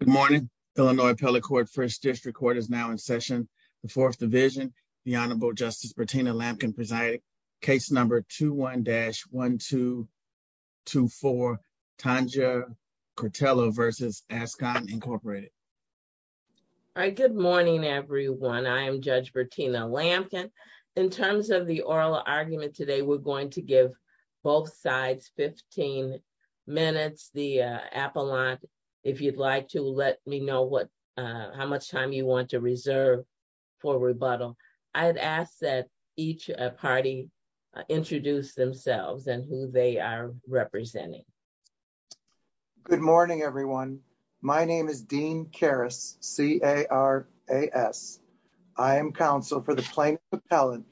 Good morning. Illinois Appellate Court, 1st District Court is now in session. The 4th Division, the Honorable Justice Bertina Lampkin presiding, case number 21-1224, Tanja Cretella v. Azcon, Inc. Good morning, everyone. I am Judge Bertina Lampkin. In terms of the oral argument today, we're going to give both sides 15 minutes. The appellant, if you'd like to let me know how much time you want to reserve for rebuttal. I'd ask that each party introduce themselves and who they are representing. Good morning, everyone. My name is Dean Karas, C-A-R-A-S. I am counsel for the plaintiff appellant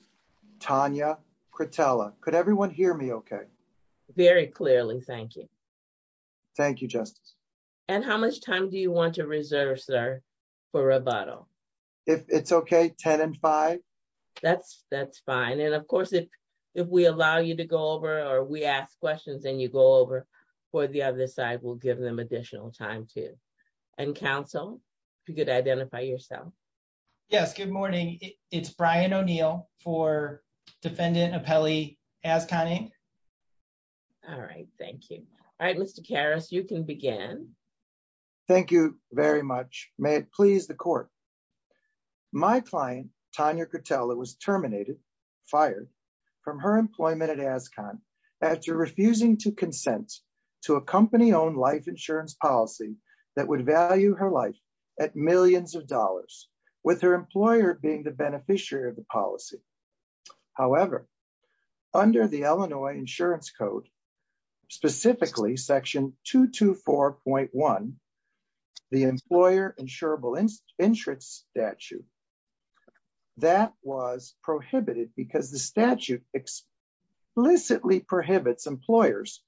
Tanja Cretella. Could everyone hear me okay? Very clearly, thank you. Thank you, Justice. And how much time do you want to reserve, sir, for rebuttal? If it's okay, 10 and 5. That's fine. And of course, if we allow you to go over or we ask questions and you go over for the other side, we'll give them additional time too. And counsel, if you could identify yourself. Yes, good morning. It's Brian O'Neill for defendant appellee ASCON Inc. All right, thank you. All right, Mr. Karas, you can begin. Thank you very much. May it please the court. My client, Tanja Cretella, was terminated, fired from her employment at ASCON after refusing to consent to a company-owned life insurance policy that would value her life at millions of dollars with her employer being the beneficiary of the policy. However, under the Illinois insurance code, specifically section 224.1, the employer insurable interest statute, that was prohibited because the statute explicitly prohibits employers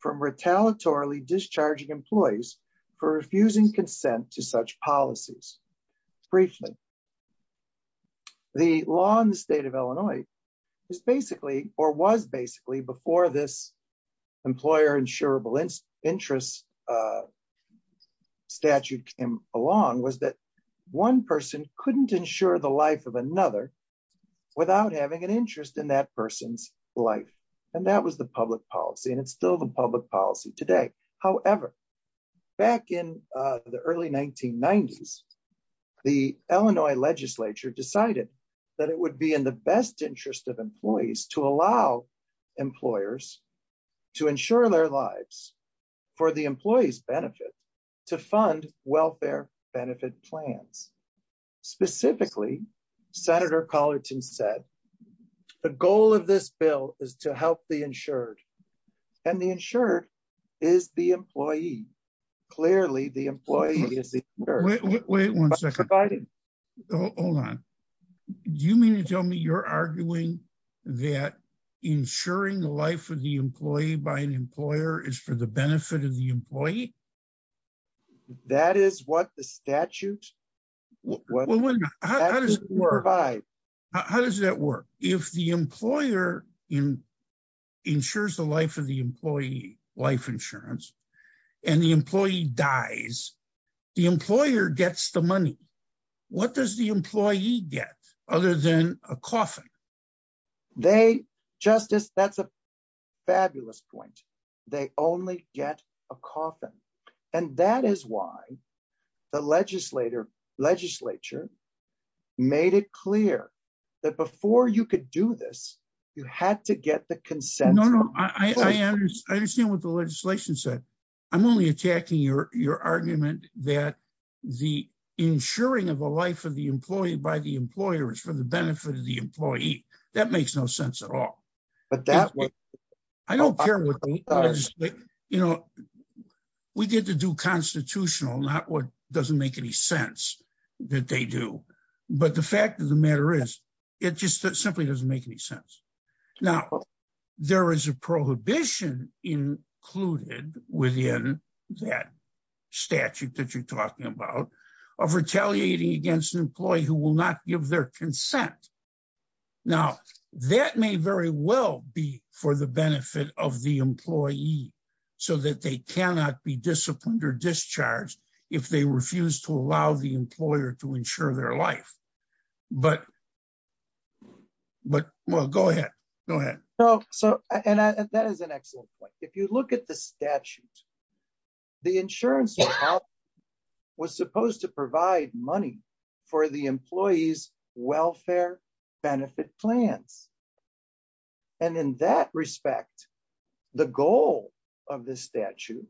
from retaliatory discharging employees for refusing consent to such policies. Briefly, the law in the state of Illinois is basically or was basically before this employer insurable interest statute came along was that one person couldn't insure the life of another without having an interest in that person's life. And that was the public policy, and it's still the public policy today. However, back in the early 1990s, the Illinois legislature decided that it would be in the best interest of employees to allow employers to insure their lives for the employee's benefit to fund welfare benefit plans. Specifically, Senator Collerton said, the goal of this bill is to help the insured, and the insured is the employee. Clearly, the employee is... Wait, wait, wait one second. Hold on. Do you mean to tell me you're arguing that insuring the life of the employee by an employer is for the benefit of the employee? That is what the statute... How does that work? If the employer insures the life of the employee, life insurance, and the employee dies, the employer gets the money. What does the employee get other than a coffin? They... Justice, that's a fabulous point. They only get a coffin. And that is why the legislature made it clear that before you could do this, you had to get the consent... No, no. I understand what the legislation said. I'm only attacking your argument that the insuring of a life of the employee by the employer is for the benefit of the employee. That makes no sense at all. I don't care what... We get to do constitutional, not what doesn't make any sense that they do. But the fact of the matter is, it just simply doesn't make any sense. Now, there is a prohibition included within that statute that you're talking about of retaliating against an employee who will not give their consent. Now, that may very well be for the benefit of the employee so that they cannot be disciplined or discharged if they refuse to allow the employer to insure their life. But... Well, go ahead. Go ahead. That is an excellent point. If you look at the statute, the insurance was supposed to provide money for the employee's welfare benefit plans. And in that respect, the goal of this statute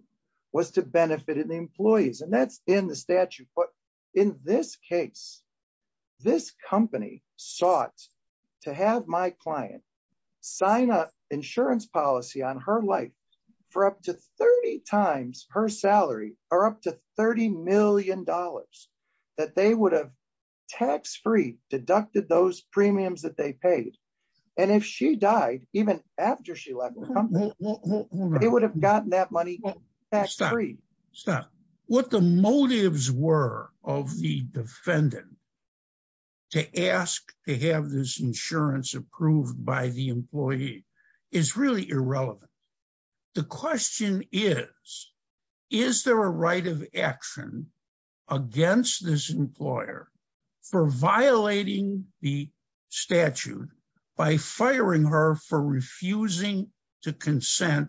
was to benefit the employees. And that's in the statute. But in this case, this company sought to have my client sign up insurance policy on her life for up to 30 times her salary, or up to $30 million that they would have tax-free deducted those premiums that they paid. And if she died, even after she left the company, they would have gotten that money tax-free. What the motives were of the defendant to ask to have this insurance approved by the employee is really irrelevant. The question is, is there a right of action against this employer for violating the statute by firing her for refusing to consent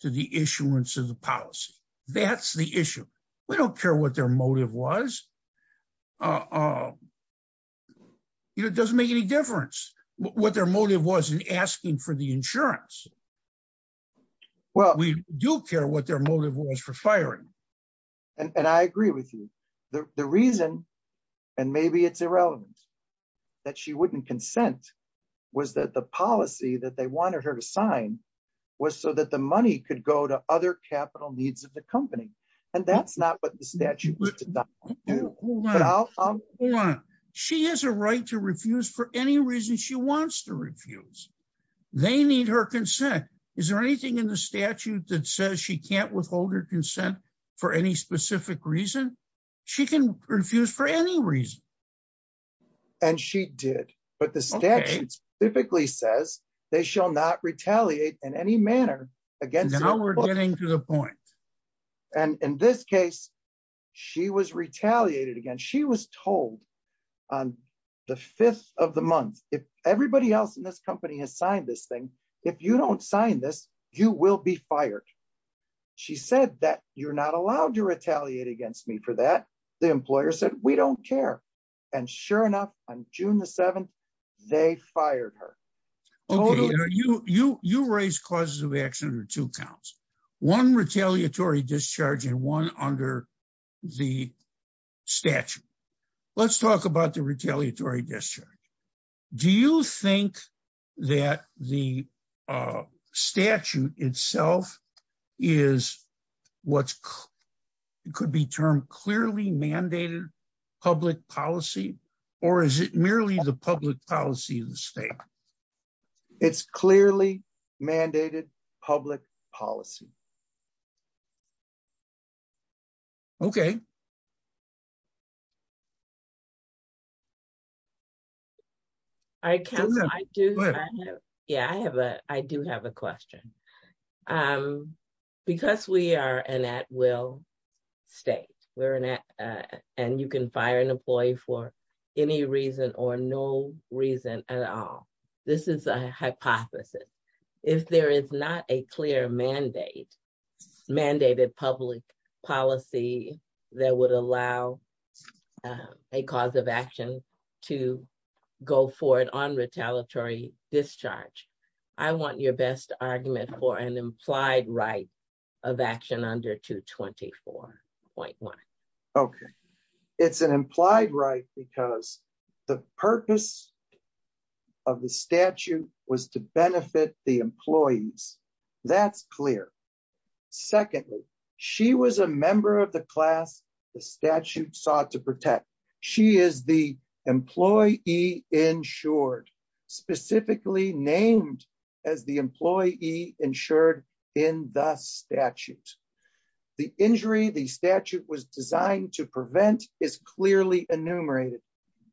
to the issuance of the policy? That's the issue. We don't care what their motive was. It doesn't make any difference what their motive was in asking for the insurance. We do care what their motive was for firing. And I agree with you. The reason, and maybe it's irrelevant, that she wouldn't consent was that the policy that they wanted her to sign was so that the money could go to other capital needs of the company. And that's not what the statute did not want to do. She has a right to refuse for any reason she wants to refuse. They need her consent. Is there anything in the statute that says she can't withhold her consent for any specific reason? She can refuse for any reason. And she did. But the statute specifically says they shall not retaliate in any manner against her. Now we're getting to the point. And in this case, she was retaliated against. She was told on the fifth of the month, if everybody else in this company has signed this thing, if you don't sign this, you will be fired. She said that you're not allowed to retaliate against me for that. The employer said, we don't care. And sure enough, on June the 7th, they fired her. Okay. You raised causes of action under two counts, one retaliatory discharge and one under the statute. Let's talk about the retaliatory discharge. Do you think that the statute itself is what could be termed clearly mandated public policy? Or is it merely the public policy of the state? It's clearly mandated public policy. Okay. All right, Councilor, I do have a question. Because we are an at-will state, and you can fire an employee for any reason or no reason at all. This is a hypothesis. If there is not clear mandated public policy that would allow a cause of action to go forward on retaliatory discharge, I want your best argument for an implied right of action under 224.1. Okay. It's an implied right because the purpose of the statute was to benefit the employees. That's clear. Secondly, she was a member of the class the statute sought to protect. She is the employee insured, specifically named as the employee insured in the statute. The injury the statute was designed to prevent is clearly enumerated.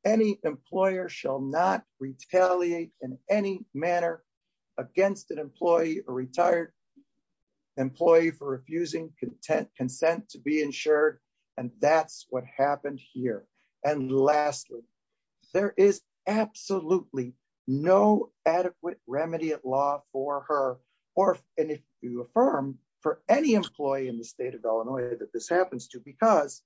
Any employer shall not retaliate in any manner against an employee, a retired employee for refusing consent to be insured. And that's what happened here. And lastly, there is absolutely no adequate remedy at law for her or if you affirm for any employee in the state of Illinois that this happens to because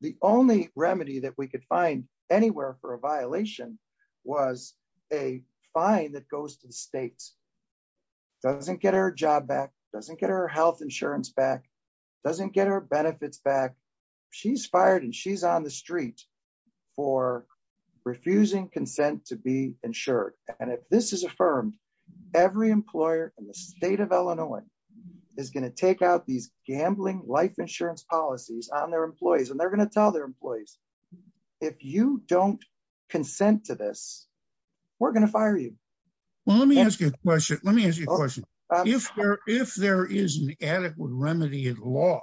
the only remedy that we could find anywhere for a violation was a fine that goes to the states. Doesn't get her job back. Doesn't get her health insurance back. Doesn't get her benefits back. She's fired and she's on the street for refusing consent to be insured. And if this is affirmed, every employer in the state of Illinois is going to take out these gambling life insurance policies on their employees and they're going to tell their employees, if you don't consent to this, we're going to fire you. Well, let me ask you a question. Let me ask you a question. If there is an adequate remedy at law,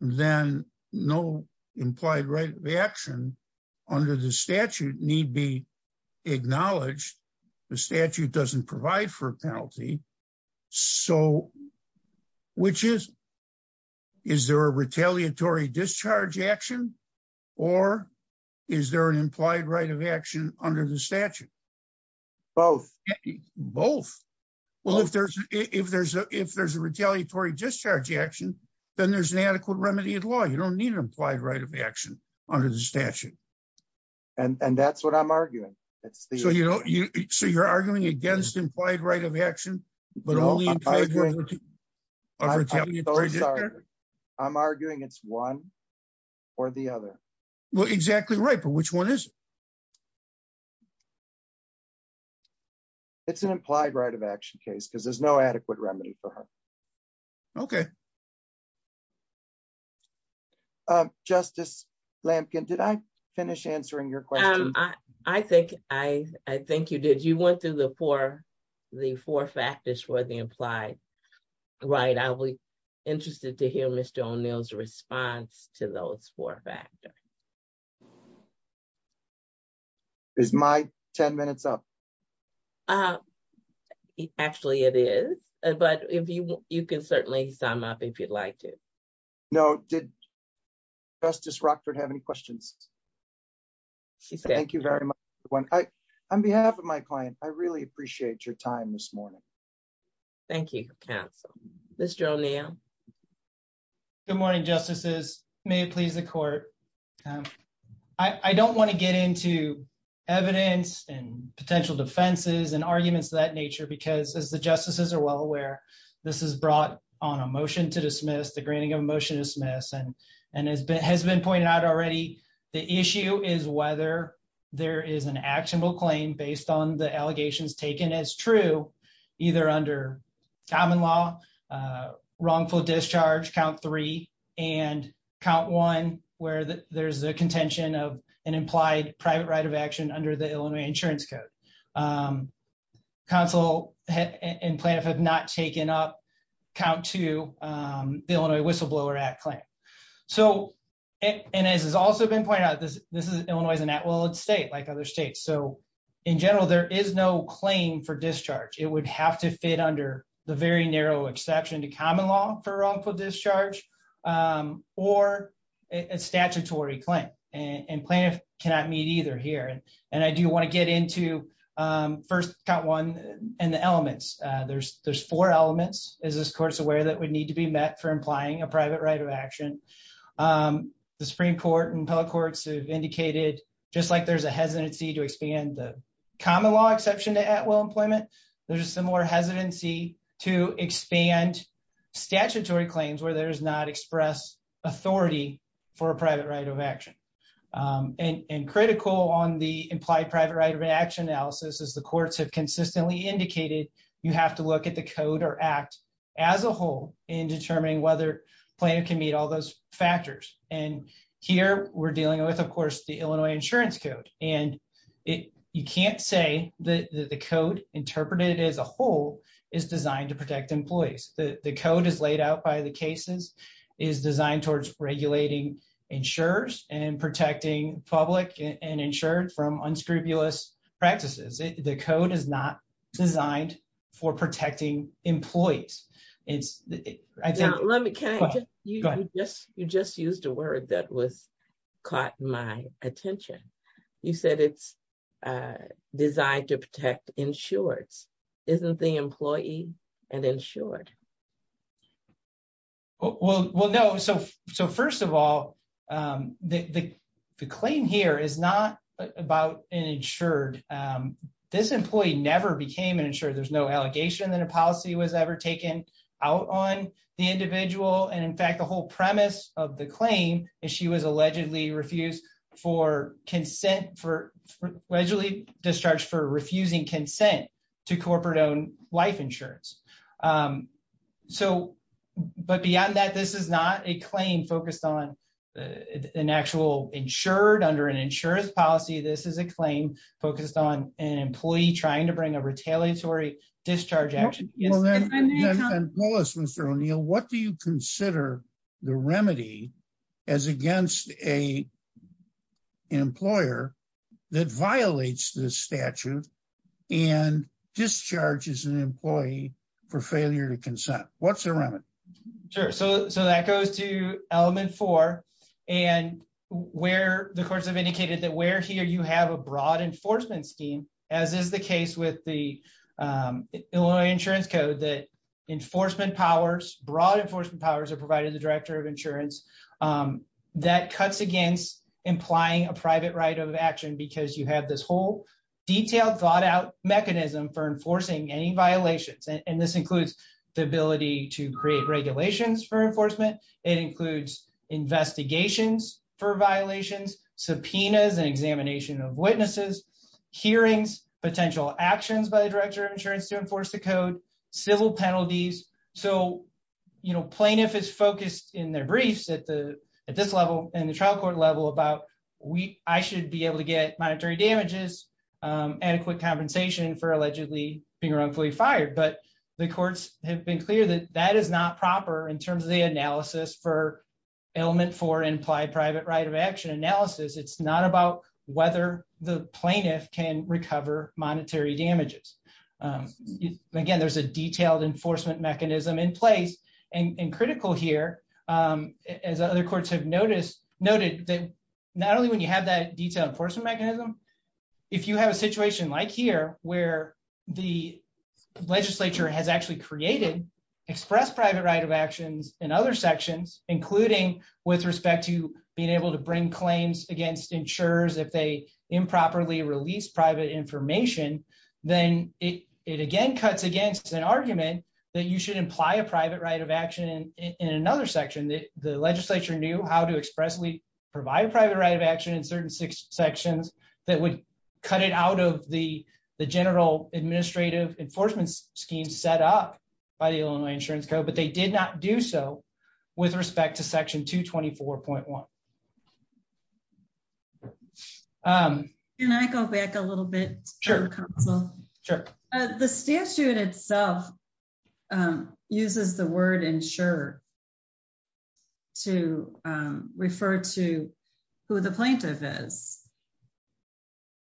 then no implied right of action under the statute need be a retaliatory discharge action or is there an implied right of action under the statute? Both. Both. Well, if there's a retaliatory discharge action, then there's an adequate remedy at law. You don't need an implied right of action under the statute. And that's what I'm arguing. So you're arguing against implied right of action, but I'm arguing it's one or the other. Well, exactly right. But which one is it? It's an implied right of action case because there's no adequate remedy for her. Okay. Justice Lampkin, did I finish answering your question? I think you did. You went through the four factors for the implied right. I'll be interested to hear Mr. O'Neill's response to those four factors. Is my 10 minutes up? Actually, it is. But you can certainly sum up if you'd like to. No. Did Justice Rockford have any questions? She said. Thank you very much, everyone. On behalf of my client, I really appreciate your time this morning. Thank you, counsel. Mr. O'Neill. Good morning, justices. May it please the court. I don't want to get into evidence and potential defenses and arguments of that nature because as the justices are well aware, this is brought on a motion to dismiss, the granting of a motion to dismiss. And as has been pointed out already, the issue is whether there is an actionable claim based on the allegations taken as true, either under common law, wrongful discharge, count three, and count one, where there's a contention of an implied private right of action under the Illinois insurance code. Counsel and plaintiff have not taken up count two, the Illinois whistleblower act claim. And as has also been pointed out, Illinois is an at-will state like other states. So in general, there is no claim for discharge. It would have to fit under the very narrow exception to common law for wrongful discharge or a statutory claim. And plaintiff cannot meet either here. And I do want to get into first count one and the elements. There's four elements, as this court is aware, that would need to be met for implying a private right of action. The Supreme Court and appellate courts have indicated, just like there's a hesitancy to expand the common law exception to at-will employment, there's a similar hesitancy to expand statutory claims where there is not expressed authority for a private right of action. And critical on the implied private right of action analysis is the courts have consistently indicated you have to look at the code or act as a whole in determining whether plaintiff can meet all those factors. And here we're dealing with, of course, the Illinois insurance code. And you can't say that the code interpreted as a whole is designed to protect employees. The code is laid out by the cases, is designed towards regulating insurers and protecting public and insured from unscrupulous practices. The code is not designed for protecting employees. You just used a word that was caught my attention. You said it's designed to protect insureds. Isn't the employee an insured? Well, no. So first of all, the claim here is not about an insured. This employee never became an insured. There's no allegation that a policy was ever taken out on the individual. And in fact, the whole premise of the claim is she was allegedly refused for consent for allegedly discharged for so. But beyond that, this is not a claim focused on an actual insured under an insurance policy. This is a claim focused on an employee trying to bring a retaliatory discharge action. And tell us, Mr. O'Neill, what do you consider the remedy as against a employer that violates the statute and discharges an employee for failure to consent? What's the remedy? Sure. So that goes to element four. And where the courts have indicated that where here you have a broad enforcement scheme, as is the case with the Illinois Insurance Code, that enforcement powers, broad enforcement powers are provided to the director of insurance, um, that cuts against implying a private right of action because you have this whole detailed thought out mechanism for enforcing any violations. And this includes the ability to create regulations for enforcement. It includes investigations for violations, subpoenas and examination of witnesses, hearings, potential actions by the director of insurance to enforce the code, civil penalties. So, you know, plaintiff is focused in their briefs at the at this level and the trial court level about we I should be able to get monetary damages, adequate compensation for allegedly being wrongfully fired. But the courts have been clear that that is not proper in terms of the analysis for element four implied private right of action analysis. It's not about whether the plaintiff can recover monetary damages. Again, there's a detailed enforcement mechanism in place. And critical here, as other courts have noticed, noted that not only when you have that detailed enforcement mechanism, if you have a situation like here, where the legislature has actually created express private right of actions in other sections, including with respect to being able to bring claims against insurers if they improperly release private information, then it again cuts against an argument that you should imply a private right of action in another section that the legislature knew how to expressly provide private right of action in certain sections that would cut it out of the general administrative enforcement scheme set up by the Illinois Insurance Code, but they did not do so with respect to section 224.1. Can I go back a little bit? Sure. The statute itself uses the word insurer to refer to who the plaintiff is.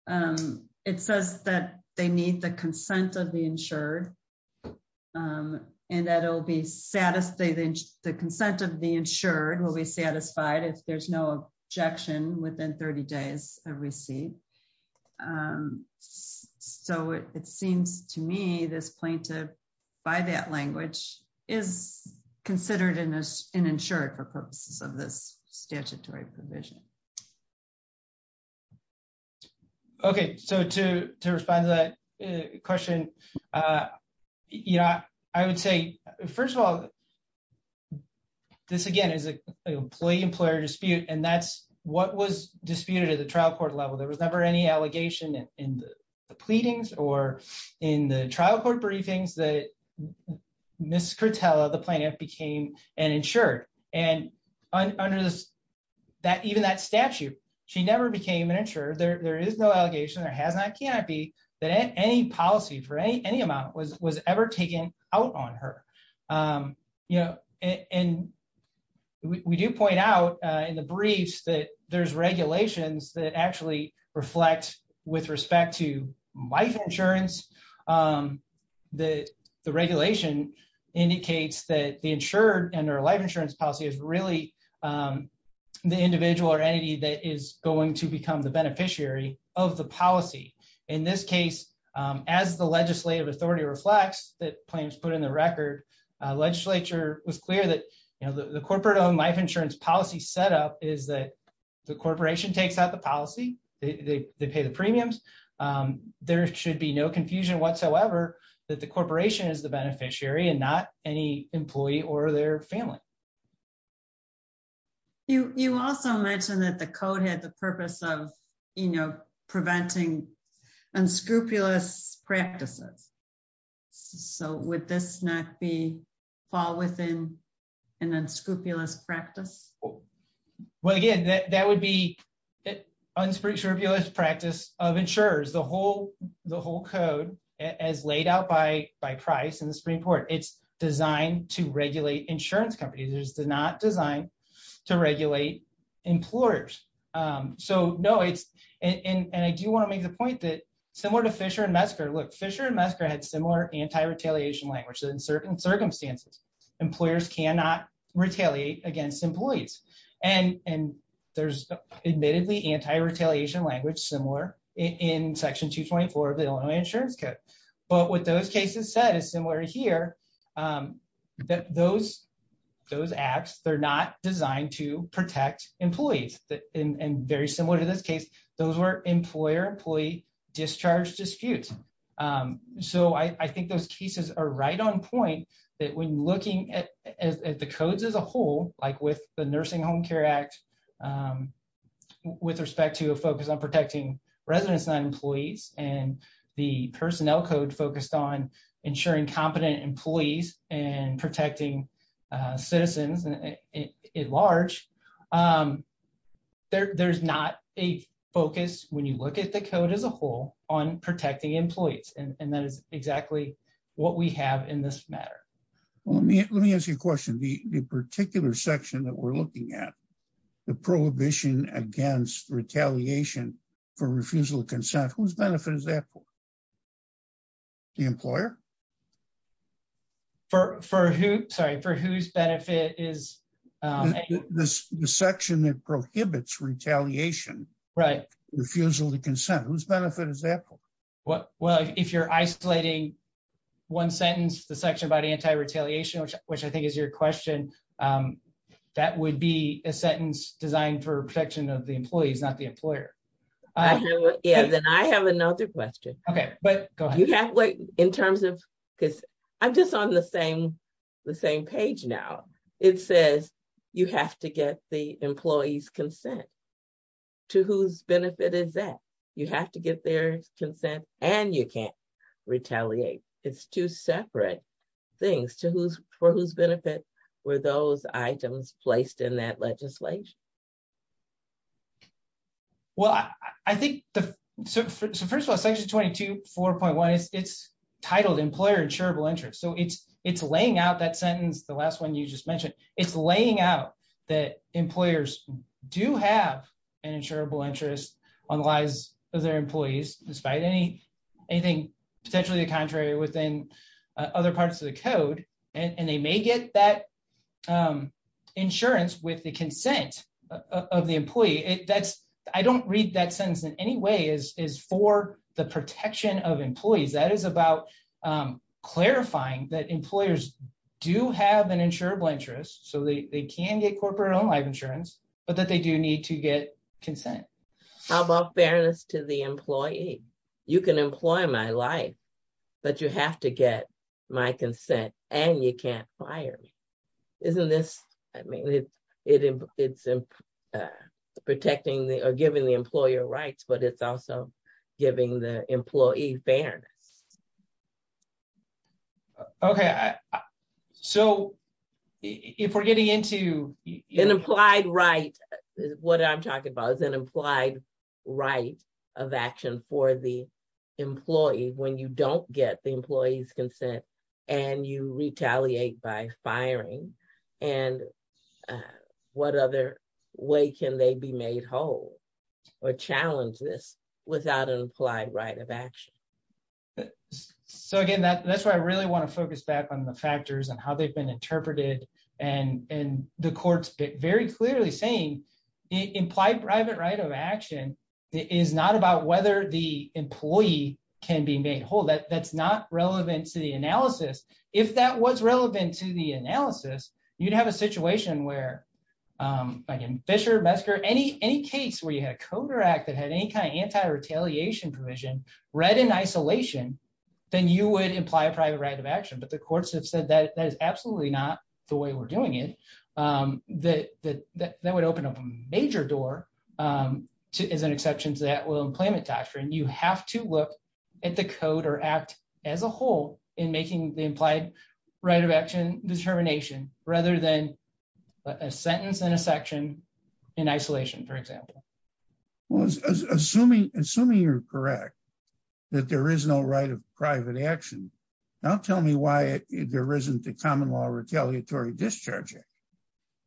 And it says that they need the consent of the insured. And that'll be satisfied, the consent of the insured will be satisfied if there's no objection within 30 days of receipt. So it seems to me this plaintiff, by that language, is considered an insurer for purposes of this statutory provision. Okay, so to respond to that question, I would say, first of all, this again is an employee-employer dispute, and that's what was disputed at the trial court level. There was never any allegation in the pleadings or in the trial court briefings that Ms. Cortella, the plaintiff, became an insured. And under even that statute, she never became an insured. There is no allegation, there has not, cannot be, that any policy for any amount was ever taken out on her. And we do point out in the briefs that there's regulations that actually reflect with respect to life insurance, that the regulation indicates that the insured and their life insurance policy is really the individual or entity that is going to become the beneficiary of the policy. In this case, as the legislative authority reflects that plaintiffs put in the record, legislature was clear that the corporate-owned life insurance policy setup is that the corporation whatsoever, that the corporation is the beneficiary and not any employee or their family. You also mentioned that the code had the purpose of preventing unscrupulous practices. So would this not be fall within an unscrupulous practice? Well, again, that would be an unscrupulous practice of insurers. The whole code, as laid out by Price in the Supreme Court, it's designed to regulate insurance companies. It's not designed to regulate employers. And I do want to make the point that similar to Fisher and Mesker, look, Fisher and Mesker had similar anti-retaliation language. In certain circumstances, employers cannot retaliate against employees. And there's admittedly anti-retaliation language similar in Section 224 of the Illinois Insurance Code. But what those cases said is similar here that those acts, they're not designed to protect employees. And very similar to this case, those were employer-employee discharge disputes. So I think those cases are right on point that when looking at the codes as a whole, like with the Nursing Home Care Act, with respect to a focus on protecting residents and employees, and the personnel code focused on insuring competent employees and protecting citizens at large, there's not a focus when you look at the code as a whole on protecting employees. And that is exactly what we have in this matter. Well, let me ask you a question. The particular section that we're looking at, the prohibition against retaliation for refusal to consent, whose benefit is that for? The employer? Sorry, for whose benefit is... The section that prohibits retaliation, refusal to consent, whose benefit is that for? Well, if you're isolating one sentence, the section about anti-retaliation, which I think is your question, that would be a sentence designed for protection of the employees, not the employer. Yeah, then I have another question. Okay, but go ahead. In terms of, because I'm just on the same page now. It says you have to get the employee's consent. To whose benefit is that? You have to get their consent and you can't retaliate. It's two separate things. For whose benefit were those items placed in that legislation? Well, I think the... So first of all, section 22, 4.1, it's titled employer insurable interest. So it's laying out that sentence, the last one you just mentioned, it's laying out that employers do have an insurable interest on the lives of their employees, despite anything potentially the contrary within other parts of the code. And they may get that insurance with the consent of the employee. I don't read that sentence in any way as for the protection of employees. That is about clarifying that employers do have an insurable interest. So they can get corporate owned life How about fairness to the employee? You can employ my life, but you have to get my consent and you can't fire me. Isn't this... I mean, it's protecting or giving the employer rights, but it's also giving the employee fairness. Okay. So if we're getting into... What I'm talking about is an implied right of action for the employee when you don't get the employee's consent and you retaliate by firing. And what other way can they be made whole or challenge this without an implied right of action? So again, that's why I really want to focus back on the factors and how they've been interpreted and the court's very clearly saying implied private right of action is not about whether the employee can be made whole. That's not relevant to the analysis. If that was relevant to the analysis, you'd have a situation where again, Fisher, Mesker, any case where you had a coder act that had any kind of anti-retaliation provision read in isolation, then you would imply private right of action. But the courts have said that that is absolutely not the way we're doing it. That would open up a major door as an exception to that employment doctrine. You have to look at the code or act as a whole in making the implied right of action determination rather than a sentence in a section in isolation, for example. Well, assuming you're correct, that there is no private right of action. Now, tell me why there isn't the Common Law Retaliatory Discharge Act?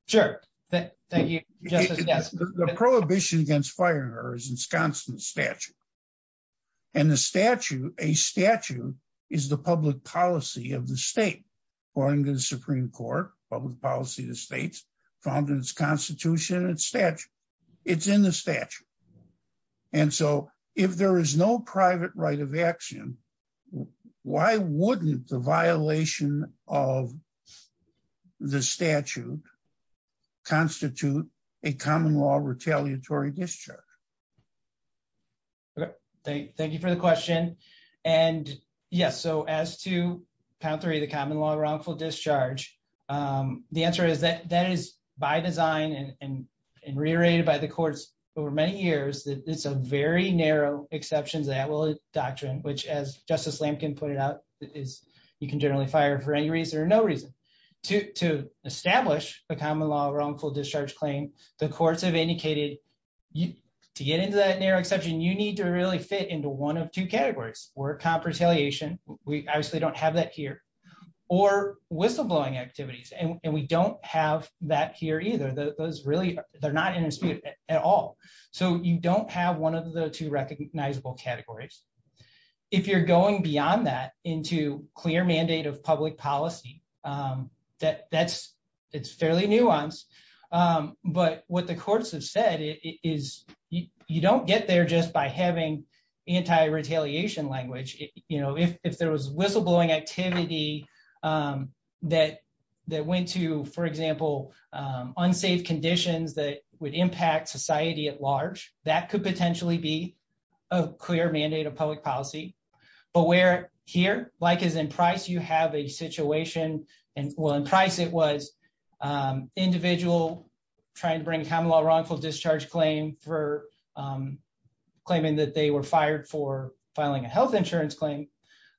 Sure. Thank you, Justice Gess. The prohibition against fire is in Scotsman's statute. And a statute is the public policy of the state, according to the Supreme Court, public policy of the states, found in its constitution and statute. It's in the statute. And so if there is no private right of action, why wouldn't the violation of the statute constitute a common law retaliatory discharge? Thank you for the question. And yes, so as to pound three, the common law wrongful discharge, the answer is that that is by design and reiterated by the courts over many years. It's a very narrow exceptions that will doctrine, which, as Justice Lampkin put it out, is you can generally fire for any reason or no reason to establish a common law wrongful discharge claim. The courts have indicated to get into that narrow exception, you need to really fit into one of two categories or comp retaliation. We obviously don't have that here or whistleblowing activities. And we don't have that here either. Those really they're not in dispute at all. So you don't have one of the two recognizable categories. If you're going beyond that into clear mandate of public policy, that that's it's fairly nuanced. But what the courts have said is you don't get there just by having anti retaliation language. You know, if there was whistleblowing activity, that that went to, for example, unsafe conditions that would impact society at large, that could potentially be a clear mandate of public policy. But we're here like is in price, you have a situation. And while in price, it was individual trying to bring common law wrongful discharge claim for claiming that they were fired for filing a health insurance claim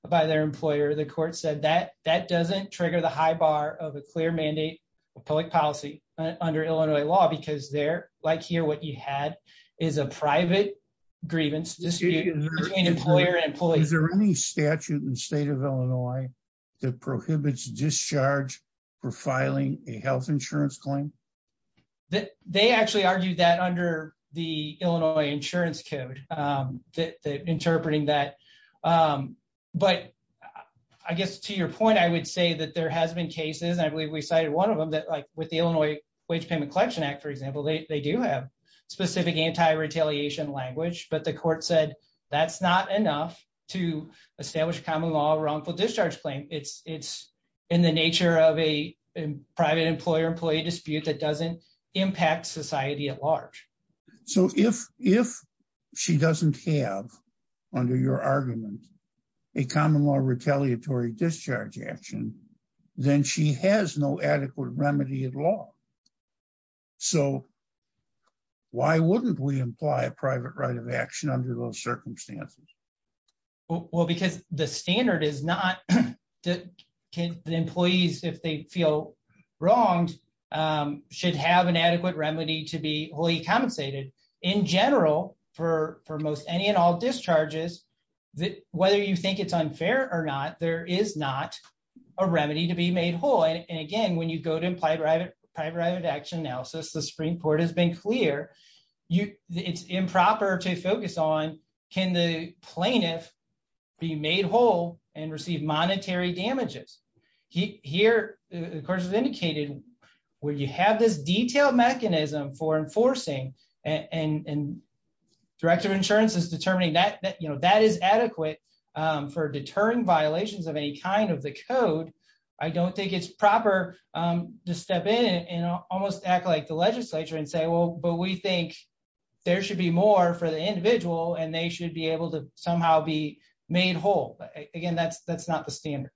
by their employer, the court said that that doesn't trigger the high bar of a clear mandate of public policy under Illinois law, because they're like here, what you had is a private grievance dispute between employer and employees or any statute in the state of Illinois, that prohibits discharge for filing a health insurance claim that they actually argued that under the Illinois insurance code, that interpreting that. But I guess to your point, I would say that there has been cases, I believe we cited one of them that like with the Illinois Wage Payment Collection Act, for example, they do have specific anti retaliation language, but the court said, that's not enough to establish common law wrongful discharge claim. It's it's in the nature of a private employer employee dispute that doesn't impact society at large. So if if she doesn't have, under your argument, a common law retaliatory discharge action, then she has no adequate remedy at law. So why wouldn't we imply a private right of action under those circumstances? Well, because the standard is not that employees, if they feel wronged, should have an adequate remedy to be wholly compensated. In general, for for most any and all discharges, that whether you think it's unfair or not, there is not a remedy to be made whole. And again, when you go to imply private private right of action analysis, the Supreme Court has been clear, you it's improper to focus on, can the plaintiff be made whole and receive monetary damages? Here, of course, is indicated, where you have this detailed mechanism for enforcing and director of insurance is determining that, you know, that is adequate for deterring violations of any kind of the code. I don't think it's proper to step in and almost act like the legislature and say, well, but we think there should be more for the individual and they should be able to somehow be made whole. But again, that's that's not the standard.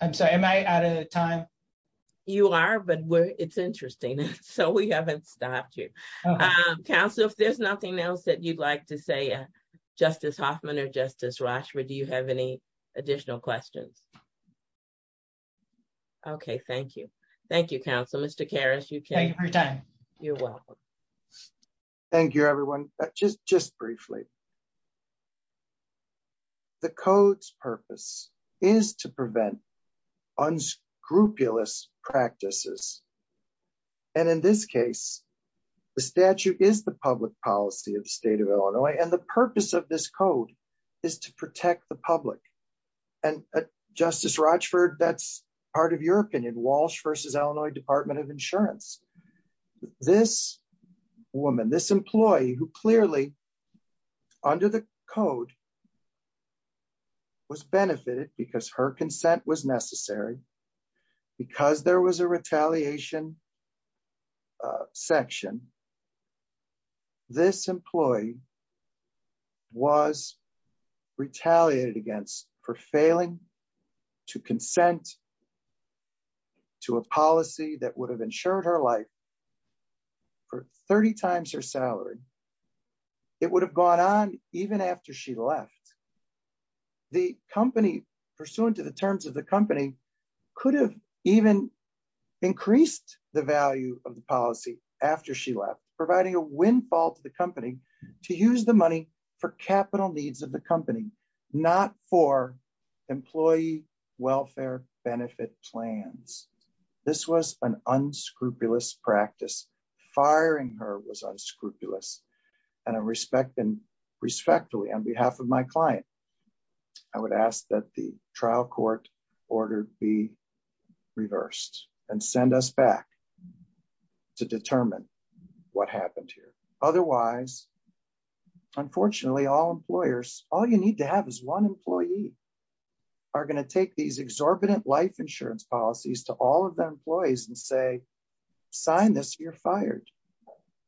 I'm sorry, am I out of time? You are, but it's interesting. So we haven't stopped you. Council, if there's nothing else that you'd like to say, Justice Hoffman or Justice Rochford, do you have any additional questions? Okay, thank you. Thank you, Council. Mr. Karras, you can thank you for your time. You're welcome. Thank you, everyone. Just just briefly. The code's purpose is to prevent unscrupulous practices. And in this case, the statute is the public policy of the state of Illinois. And the purpose of this code is to protect the public. And Justice Rochford, that's part of your opinion, Walsh versus Illinois Department of Insurance. This woman, this employee who clearly under the code was benefited because her consent was for failing to consent to a policy that would have ensured her life for 30 times her salary. It would have gone on even after she left. The company, pursuant to the terms of the company, could have even increased the value of the policy after she left, providing a windfall to the company to use the money for capital needs of the company, not for employee welfare benefit plans. This was an unscrupulous practice. Firing her was unscrupulous. And I respect and respectfully on behalf of my client, I would ask that the trial court order be reversed and send us back to determine what happened here. Otherwise, unfortunately, all employers, all you need to have is one employee are going to take these exorbitant life insurance policies to all of their employees and say, sign this, you're fired.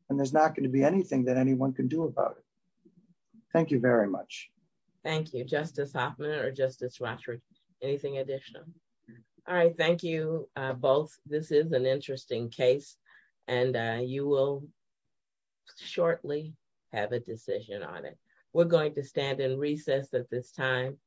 And there's not going to be anything that anyone can do about it. Thank you very much. Thank you, Justice Hoffman or Justice Rochford. Anything additional? All right. Thank you both. This is an interesting case. And you will shortly have a decision on it. We're going to stand in recess at this time.